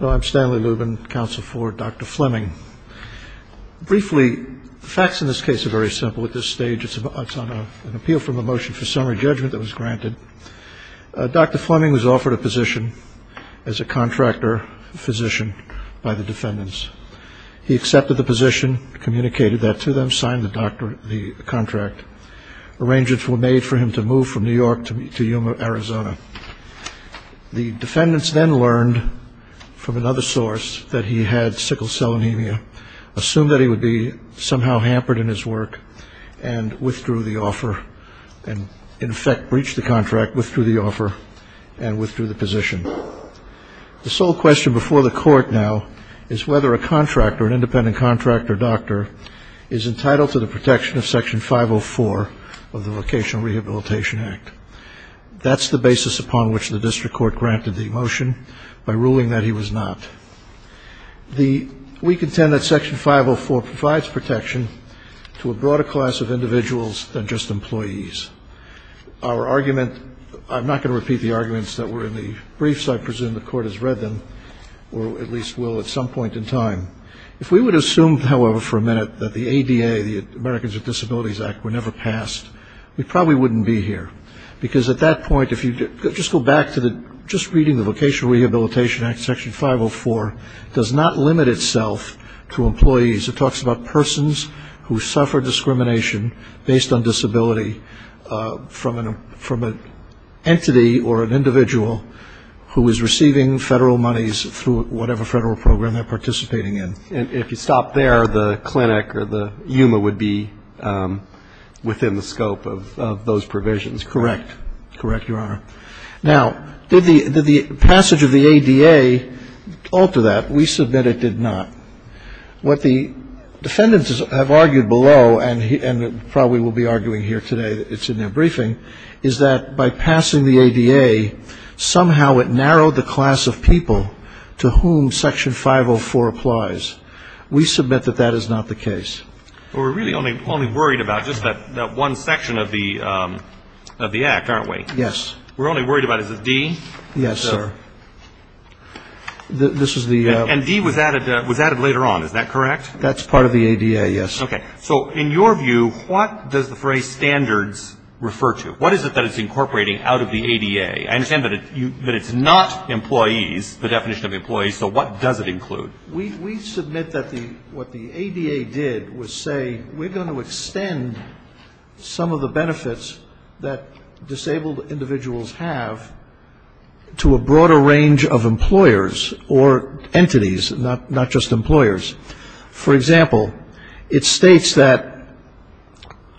I'm Stanley Lubin, counsel for Dr. Fleming. Briefly, the facts in this case are very simple at this stage. It's on an appeal from a motion for summary judgment that was granted. Dr. Fleming was offered a position as a contractor physician by the defendants. He accepted the position, communicated that to them, signed the contract. Arrangements were made for him to move from New York to Yuma, Arizona. The defendants then learned from another source that he had sickle cell anemia, assumed that he would be somehow hampered in his work, and withdrew the offer, and in effect breached the contract, withdrew the offer, and withdrew the position. The sole question before the court now is whether a contractor, an independent contractor doctor, is entitled to the protection of Section 504 of the Vocational Rehabilitation Act. That's the basis upon which the district court granted the motion, by ruling that he was not. We contend that Section 504 provides protection to a broader class of individuals than just employees. Our argument, I'm not going to repeat the arguments that were in the briefs. I presume the court has read them, or at least will at some point in time. If we would have assumed, however, for a minute that the ADA, the Americans with Disabilities Act, were never passed, we probably wouldn't be here. Because at that point, if you just go back to just reading the Vocational Rehabilitation Act, Section 504, does not limit itself to employees. It talks about persons who suffer discrimination based on disability from an entity or an individual who is receiving federal monies through whatever federal program they're participating in. And if you stop there, the clinic or the Yuma would be within the scope of those provisions. Correct. Correct, Your Honor. Now, did the passage of the ADA alter that? We submit it did not. What the defendants have argued below, and probably will be arguing here today, it's in their briefing, is that by passing the ADA, somehow it narrowed the class of people to whom Section 504 applies. We submit that that is not the case. Well, we're really only worried about just that one section of the Act, aren't we? Yes. We're only worried about, is it D? Yes, sir. This is the ---- And D was added later on, is that correct? That's part of the ADA, yes. Okay. So in your view, what does the phrase standards refer to? What is it that it's incorporating out of the ADA? I understand that it's not employees, the definition of employees, so what does it include? We submit that what the ADA did was say we're going to extend some of the benefits that disabled individuals have to a broader range of employers or entities, not just employers. For example, it states that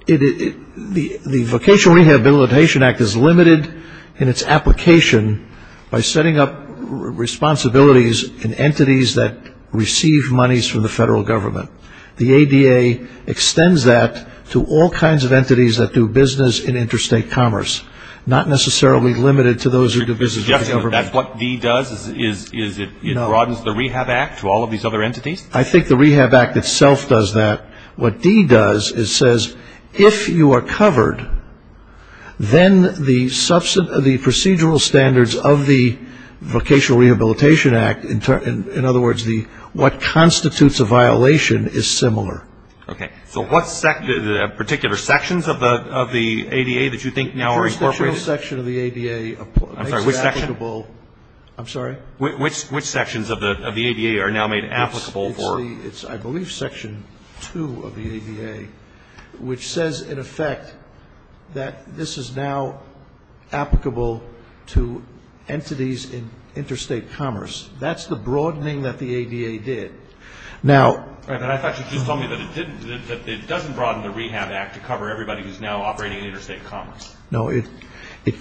the Vocational Rehabilitation Act is limited in its application by setting up responsibilities in entities that receive monies from the federal government. The ADA extends that to all kinds of entities that do business in interstate commerce, not necessarily limited to those who do business with the government. And that's what D does, is it broadens the Rehab Act to all of these other entities? I think the Rehab Act itself does that. What D does is says if you are covered, then the procedural standards of the Vocational Rehabilitation Act, in other words, what constitutes a violation is similar. Okay. So what particular sections of the ADA that you think now are incorporated? The vocational section of the ADA makes it applicable. I'm sorry, which section? I'm sorry? Which sections of the ADA are now made applicable for? It's, I believe, Section 2 of the ADA, which says, in effect, that this is now applicable to entities in interstate commerce. That's the broadening that the ADA did. But I thought you just told me that it doesn't broaden the Rehab Act to cover everybody who's now operating in interstate commerce. No, it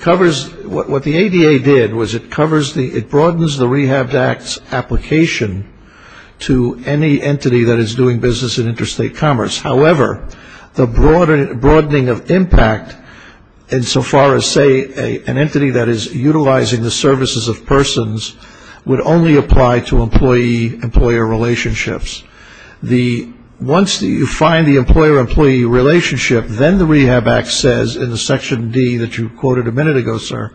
covers, what the ADA did was it broadens the Rehab Act's application to any entity that is doing business in interstate commerce. However, the broadening of impact insofar as, say, an entity that is utilizing the services of persons would only apply to employee-employer relationships. Once you find the employer-employee relationship, then the Rehab Act says in the Section D that you quoted a minute ago, sir,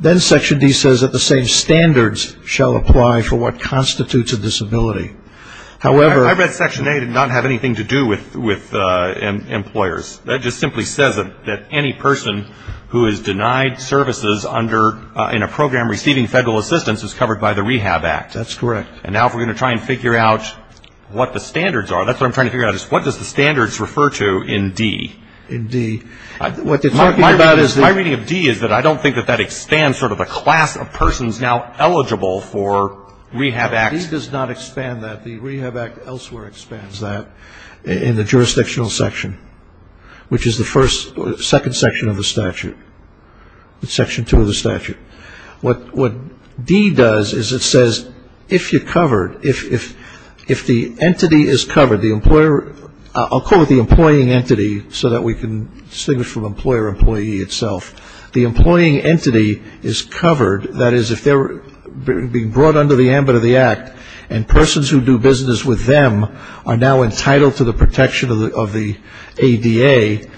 then Section D says that the same standards shall apply for what constitutes a disability. However, I read Section A did not have anything to do with employers. That just simply says that any person who is denied services under, in a program receiving federal assistance is covered by the Rehab Act. That's correct. And now if we're going to try and figure out what the standards are, that's what I'm trying to figure out is what does the standards refer to in D? In D. What they're talking about is that. My reading of D is that I don't think that that expands sort of the class of persons now eligible for Rehab Act. No, D does not expand that. The Rehab Act elsewhere expands that in the jurisdictional section, which is the first or second section of the statute, Section 2 of the statute. What D does is it says if you're covered, if the entity is covered, the employer, I'll call it the employing entity so that we can distinguish from employer, employee itself. The employing entity is covered, that is if they're being brought under the ambit of the Act and persons who do business with them are now entitled to the protection of the ADA,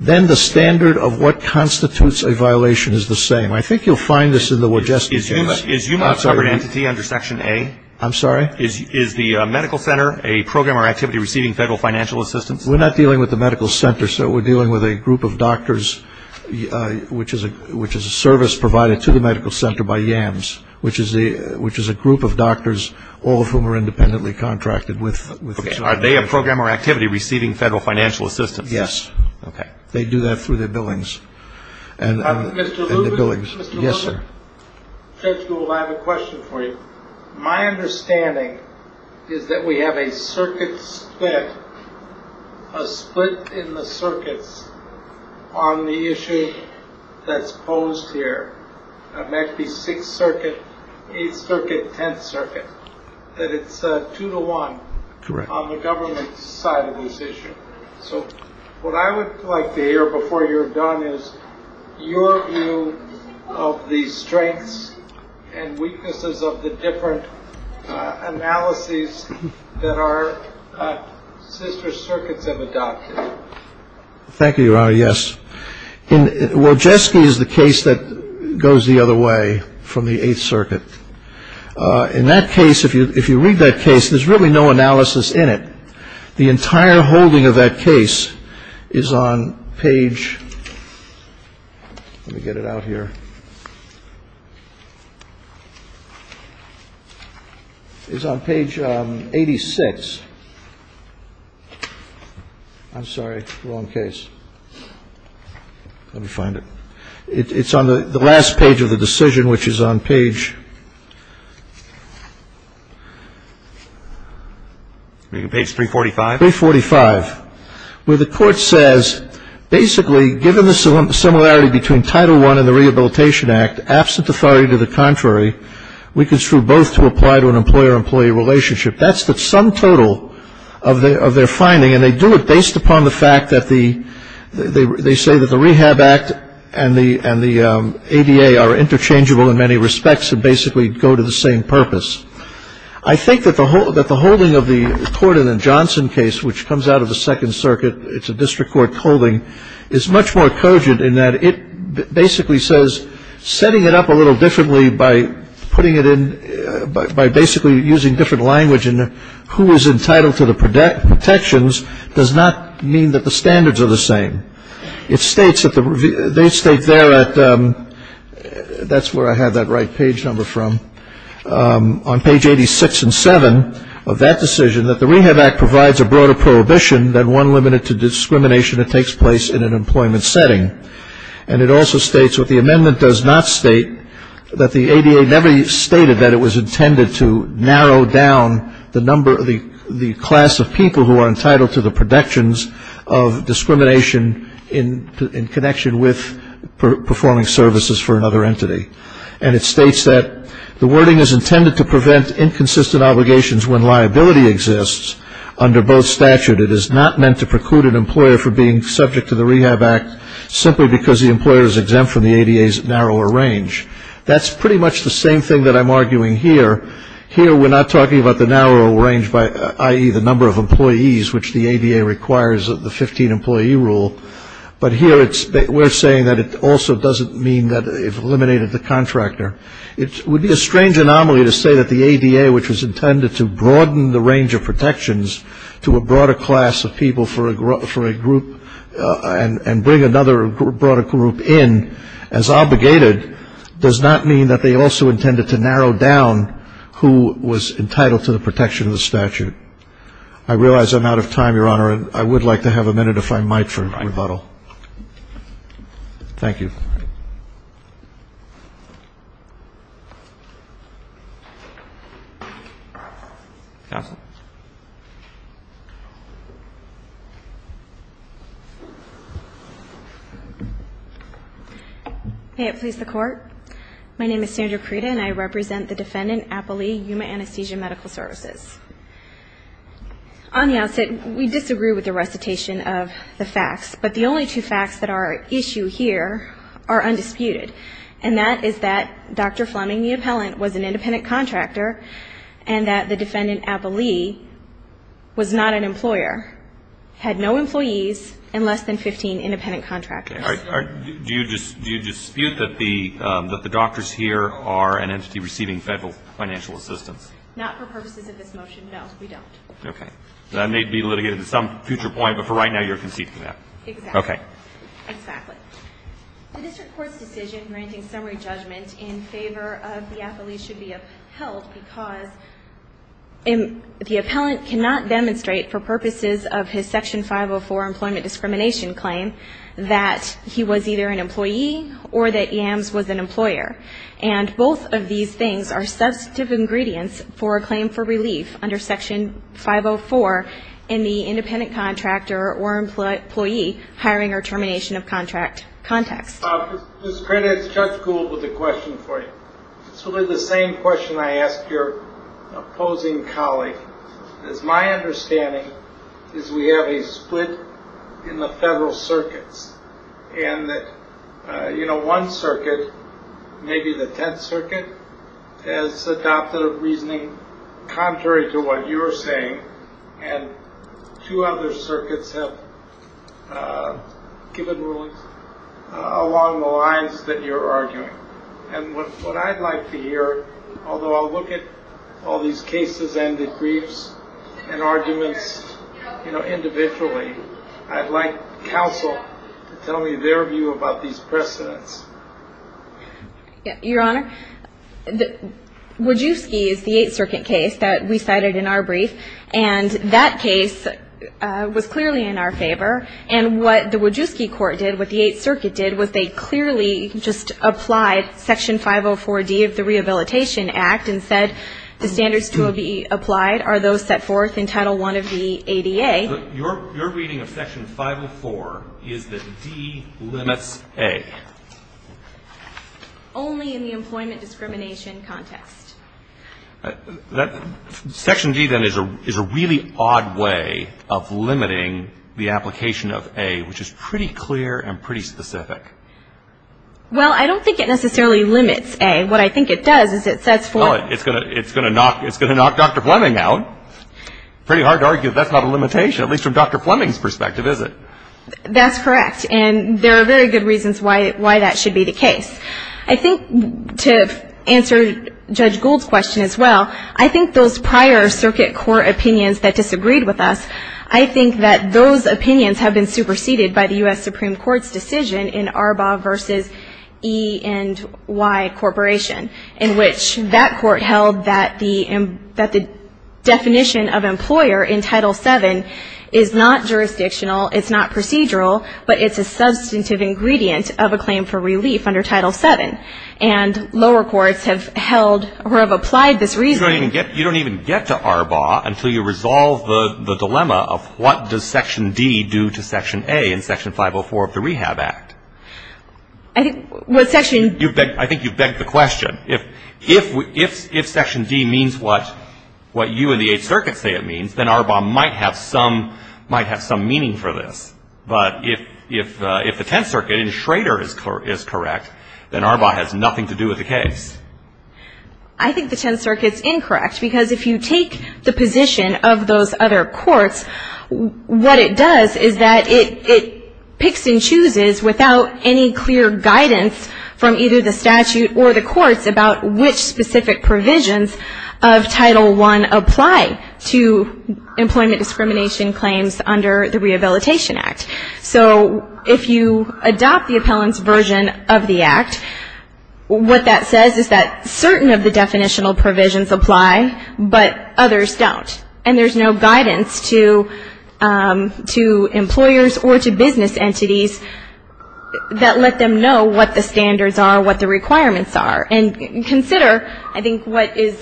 then the standard of what constitutes a violation is the same. I think you'll find this in the Wojcicki case. Is UMA a covered entity under Section A? I'm sorry? Is the medical center a program or activity receiving federal financial assistance? We're not dealing with the medical center, sir. We're dealing with a group of doctors, which is a service provided to the medical center by YAMS, which is a group of doctors, all of whom are independently contracted with the child. Are they a program or activity receiving federal financial assistance? Yes. Okay. They do that through their billings. Mr. Lubin? Yes, sir. Judge Gould, I have a question for you. My understanding is that we have a circuit split, a split in the circuits on the issue that's posed here. That might be Sixth Circuit, Eighth Circuit, Tenth Circuit, that it's two to one on the government side of this issue. So what I would like to hear before you're done is your view of the strengths and weaknesses of the different analyses that our sister circuits have adopted. Thank you, Your Honor. Yes. In Wojcicki is the case that goes the other way from the Eighth Circuit. In that case, if you read that case, there's really no analysis in it. The entire holding of that case is on page ‑‑ let me get it out here. It's on page 86. I'm sorry, wrong case. Let me find it. It's on the last page of the decision, which is on page ‑‑ Page 345. 345, where the court says, basically, given the similarity between Title I and the Rehabilitation Act, absent authority to the contrary, we construe both to apply to an employer-employee relationship. That's the sum total of their finding. And they do it based upon the fact that they say that the Rehab Act and the ADA are interchangeable in many respects and basically go to the same purpose. I think that the holding of the Corden and Johnson case, which comes out of the Second Circuit, it's a district court holding, is much more cogent in that it basically says, setting it up a little differently by putting it in ‑‑ by basically using different language in who is entitled to the protections does not mean that the standards are the same. It states that they state there at ‑‑ that's where I had that right page number from. On page 86 and 7 of that decision, that the Rehab Act provides a broader prohibition than one limited to discrimination that takes place in an employment setting. And it also states what the amendment does not state, that the ADA never stated that it was intended to narrow down the number of the class of people who are entitled to the protections of discrimination in connection with performing services for another entity. And it states that the wording is intended to prevent inconsistent obligations when liability exists under both statute. It is not meant to preclude an employer from being subject to the Rehab Act simply because the employer is exempt from the ADA's narrower range. That's pretty much the same thing that I'm arguing here. Here we're not talking about the narrower range, i.e., the number of employees, which the ADA requires of the 15‑employee rule. But here we're saying that it also doesn't mean that it eliminated the contractor. It would be a strange anomaly to say that the ADA, which was intended to broaden the range of protections to a broader class of people for a group and bring another broader group in as obligated, does not mean that they also intended to narrow down who was entitled to the protection of the statute. I realize I'm out of time, Your Honor, and I would like to have a minute, if I might, for rebuttal. Thank you. Counsel? May it please the Court. My name is Sandra Creda, and I represent the defendant, Apple Lee, Yuma Anesthesia Medical Services. On the outset, we disagree with the recitation of the facts, but the only two facts that are at issue here are undisputed, and that is that Dr. Fleming, the appellant, was an independent contractor and that the defendant, Apple Lee, was not an employer, had no employees, and less than 15 independent contractors. Do you dispute that the doctors here are an entity receiving federal financial assistance? Not for purposes of this motion, no, we don't. Okay. That may be litigated at some future point, but for right now, you're conceding that. Exactly. Okay. Exactly. The district court's decision granting summary judgment in favor of the Apple Lee should be upheld because the appellant cannot demonstrate for purposes of his Section 504 employment discrimination claim that he was either an employee or that Yams was an employer, and both of these things are substantive ingredients for a claim for relief under Section 504 in the independent contractor or employee hiring or termination of contract context. Ms. Crennan, Judge Gould with a question for you. It's really the same question I ask your opposing colleague. It's my understanding is we have a split in the federal circuits, and that one circuit, maybe the 10th Circuit, has adopted a reasoning contrary to what you're saying, and two other circuits have given rulings along the lines that you're arguing. And what I'd like to hear, although I'll look at all these cases and the briefs and arguments individually, I'd like counsel to tell me their view about these precedents. Your Honor, Wojcicki is the 8th Circuit case that we cited in our brief, and that case was clearly in our favor, and what the Wojcicki court did, what the 8th Circuit did, was they clearly just applied Section 504D of the Rehabilitation Act and said the standards to be applied are those set forth in Title I of the ADA. Your reading of Section 504 is that D limits A. Only in the employment discrimination context. Section D, then, is a really odd way of limiting the application of A, which is pretty clear and pretty specific. Well, I don't think it necessarily limits A. What I think it does is it sets forth. It's going to knock Dr. Fleming out. Pretty hard to argue that that's not a limitation, at least from Dr. Fleming's perspective, is it? That's correct, and there are very good reasons why that should be the case. I think to answer Judge Gould's question as well, I think those prior circuit court opinions that disagreed with us, I think that those opinions have been superseded by the U.S. Supreme Court's decision in Arbaugh v. E&Y Corporation, in which that court held that the definition of employer in Title VII is not jurisdictional, it's not procedural, but it's a substantive ingredient of a claim for relief under Title VII. And lower courts have held or have applied this reasoning. You don't even get to Arbaugh until you resolve the dilemma of what does Section D do to Section A in Section 504 of the Rehab Act? I think what Section — I think you've begged the question. If Section D means what you and the Eighth Circuit say it means, then Arbaugh might have some meaning for this. But if the Tenth Circuit and Schrader is correct, then Arbaugh has nothing to do with the case. I think the Tenth Circuit's incorrect, because if you take the position of those other courts, what it does is that it picks and chooses without any clear guidance from either the statute or the courts about which specific provisions of Title I apply to employment discrimination claims under the Rehabilitation Act. So if you adopt the appellant's version of the Act, what that says is that certain of the definitional provisions apply, but others don't. And there's no guidance to employers or to business entities that let them know what the standards are, what the requirements are. And consider, I think, what is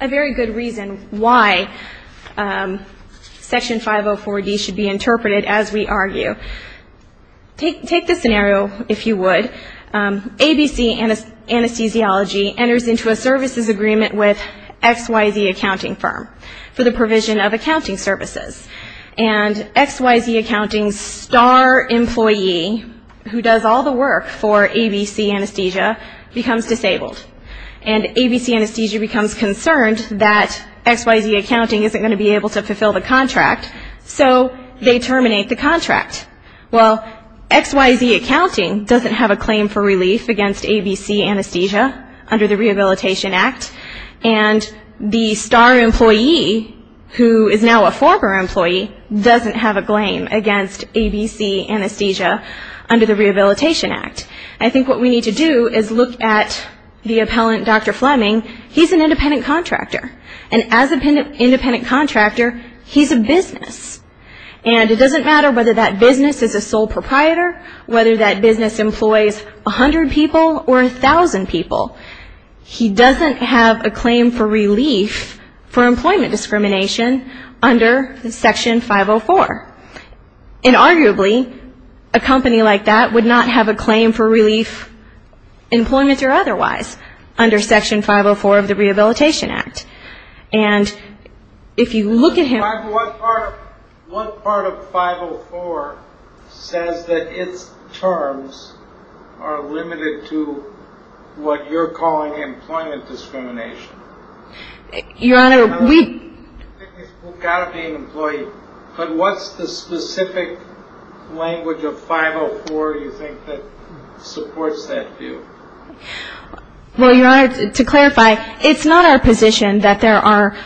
a very good reason why Section 504D should be interpreted as we argue. Take this scenario, if you would. ABC Anesthesiology enters into a services agreement with XYZ Accounting Firm for the provision of accounting services. And XYZ Accounting's star employee, who does all the work for ABC Anesthesia, becomes disabled. And ABC Anesthesia becomes concerned that XYZ Accounting isn't going to be able to fulfill the contract, so they terminate the contract. Well, XYZ Accounting doesn't have a claim for relief against ABC Anesthesia under the Rehabilitation Act. And the star employee, who is now a former employee, doesn't have a claim against ABC Anesthesia under the Rehabilitation Act. I think what we need to do is look at the appellant, Dr. Fleming. He's an independent contractor. And as an independent contractor, he's a business. And it doesn't matter whether that business is a sole proprietor, whether that business employs 100 people or 1,000 people. He doesn't have a claim for relief for employment discrimination under Section 504. And arguably, a company like that would not have a claim for relief, employment or otherwise, under Section 504 of the Rehabilitation Act. And if you look at him ñ What part of 504 says that its terms are limited to what you're calling employment discrimination? Your Honor, we ñ You've got to be an employee. But what's the specific language of 504 you think that supports that view? Well, Your Honor, to clarify, it's not our position that there are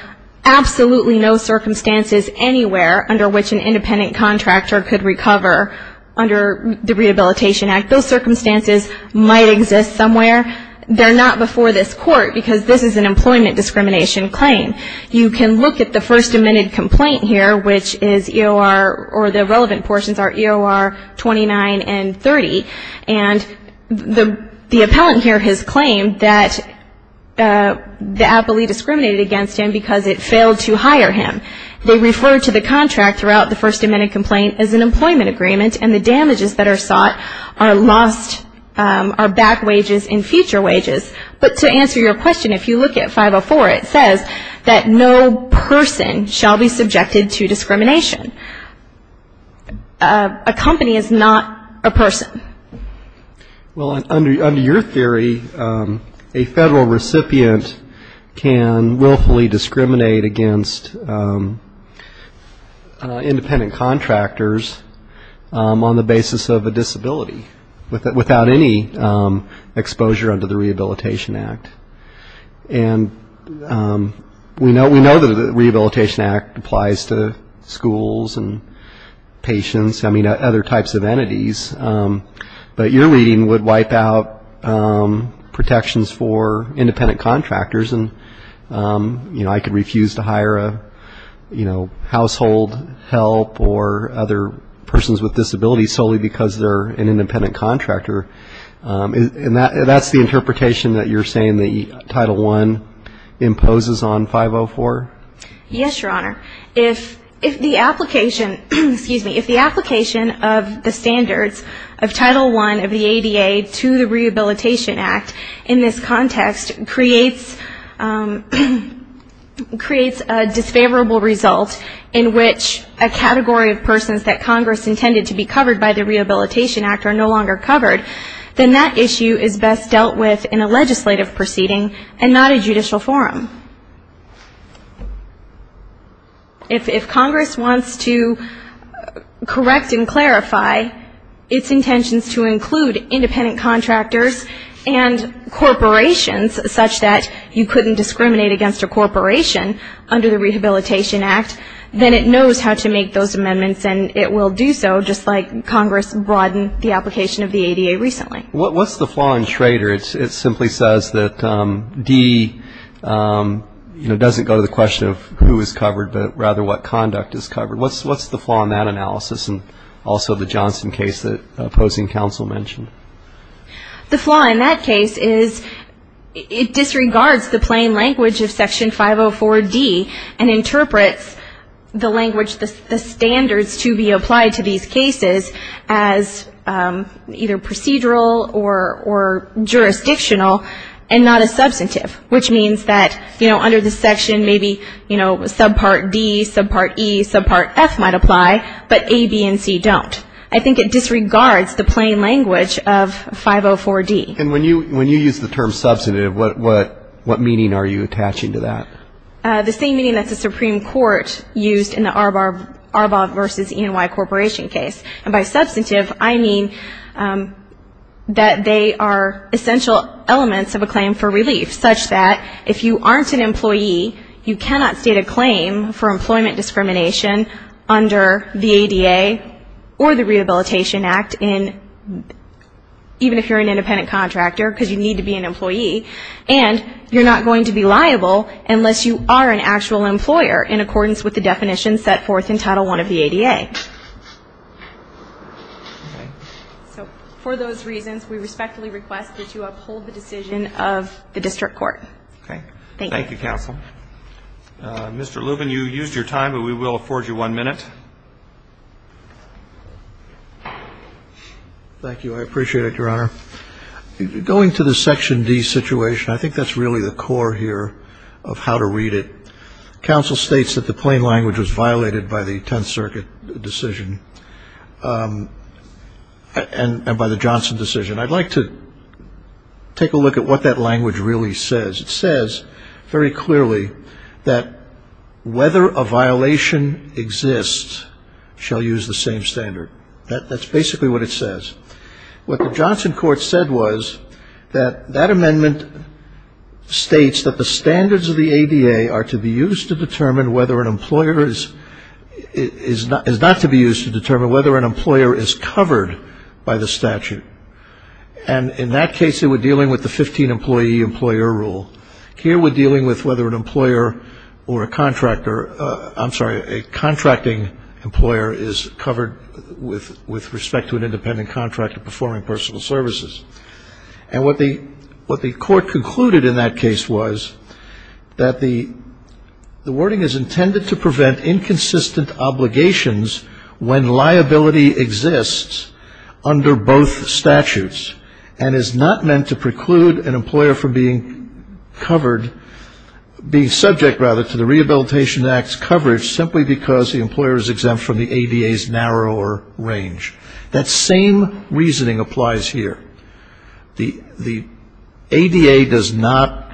absolutely no circumstances anywhere under which an independent contractor could recover under the Rehabilitation Act. Those circumstances might exist somewhere. They're not before this Court because this is an employment discrimination claim. You can look at the first amended complaint here, which is EOR ñ or the relevant portions are EOR 29 and 30. And the appellant here has claimed that the appellee discriminated against him because it failed to hire him. They refer to the contract throughout the first amended complaint as an employment agreement, and the damages that are sought are back wages and future wages. But to answer your question, if you look at 504, it says that no person shall be subjected to discrimination. A company is not a person. Well, under your theory, a federal recipient can willfully discriminate against independent contractors on the basis of a disability, without any exposure under the Rehabilitation Act. And we know that the Rehabilitation Act applies to schools and patients, I mean, other types of entities. But your reading would wipe out protections for independent contractors. And, you know, I could refuse to hire a, you know, household help or other persons with disabilities solely because they're an independent contractor. And that's the interpretation that you're saying that Title I imposes on 504? Yes, Your Honor. If the application ñ excuse me ñ if the application of the standards of Title I of the ADA to the Rehabilitation Act in this context creates a disfavorable result in which a category of persons that Congress intended to be covered by the Rehabilitation Act are no longer covered, then that issue is best dealt with in a legislative proceeding and not a judicial forum. If Congress wants to correct and clarify its intentions to include independent contractors and corporations such that you couldn't discriminate against a corporation under the Rehabilitation Act, then it knows how to make those amendments and it will do so, just like Congress broadened the application of the ADA recently. What's the flaw in Trader? It simply says that D, you know, doesn't go to the question of who is covered, but rather what conduct is covered. What's the flaw in that analysis and also the Johnson case that opposing counsel mentioned? The flaw in that case is it disregards the plain language of Section 504D and interprets the language, the standards to be applied to these cases as either procedural or jurisdictional and not a substantive, which means that, you know, under the section, maybe, you know, subpart D, subpart E, subpart F might apply, but A, B, and C don't. I think it disregards the plain language of 504D. And when you use the term substantive, what meaning are you attaching to that? The same meaning that the Supreme Court used in the Arbaugh v. E&Y Corporation case. And by substantive, I mean that they are essential elements of a claim for relief, such that if you aren't an employee, you cannot state a claim for employment discrimination under the ADA or the Rehabilitation Act, even if you're an independent contractor because you need to be an employee, and you're not going to be liable unless you are an actual employer in accordance with the definitions set forth in Title I of the ADA. So for those reasons, we respectfully request that you uphold the decision of the district court. Thank you. Thank you, counsel. Mr. Lubin, you used your time, but we will afford you one minute. Thank you. I appreciate it, Your Honor. Going to the section D situation, I think that's really the core here of how to read it. Counsel states that the plain language was violated by the Tenth Circuit decision and by the Johnson decision. I'd like to take a look at what that language really says. It says very clearly that whether a violation exists shall use the same standard. That's basically what it says. What the Johnson court said was that that amendment states that the standards of the ADA are to be used to determine whether an employer is not to be used to determine whether an employer is covered by the statute. And in that case, they were dealing with the 15-employee employer rule. Here we're dealing with whether an employer or a contractor, I'm sorry, a contracting employer is covered with respect to an independent contractor performing personal services. And what the court concluded in that case was that the wording is intended to prevent inconsistent obligations when liability exists under both statutes and is not meant to preclude an employer from being covered, being subject, rather, to the Rehabilitation Act's coverage simply because the employer is exempt from the ADA's narrower range. That same reasoning applies here. The ADA does not,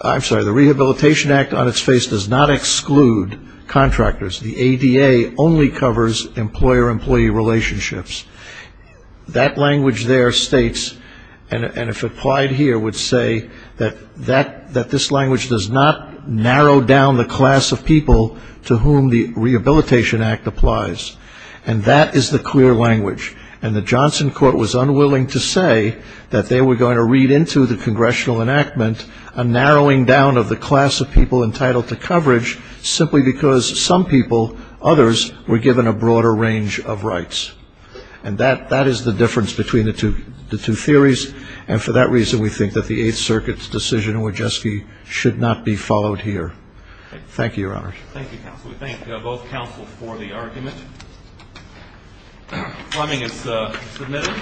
I'm sorry, the Rehabilitation Act on its face does not exclude contractors. The ADA only covers employer-employee relationships. That language there states, and if applied here, would say that this language does not narrow down the class of people to whom the Rehabilitation Act applies. And that is the clear language. And the Johnson court was unwilling to say that they were going to read into the congressional enactment a narrowing down of the class of people entitled to coverage simply because some people, others, were given a broader range of rights. And that is the difference between the two theories, and for that reason we think that the Eighth Circuit's decision in Wojcicki should not be followed here. Thank you, Your Honors. Thank you, Counsel. We thank both counsel for the argument. Fleming is submitted.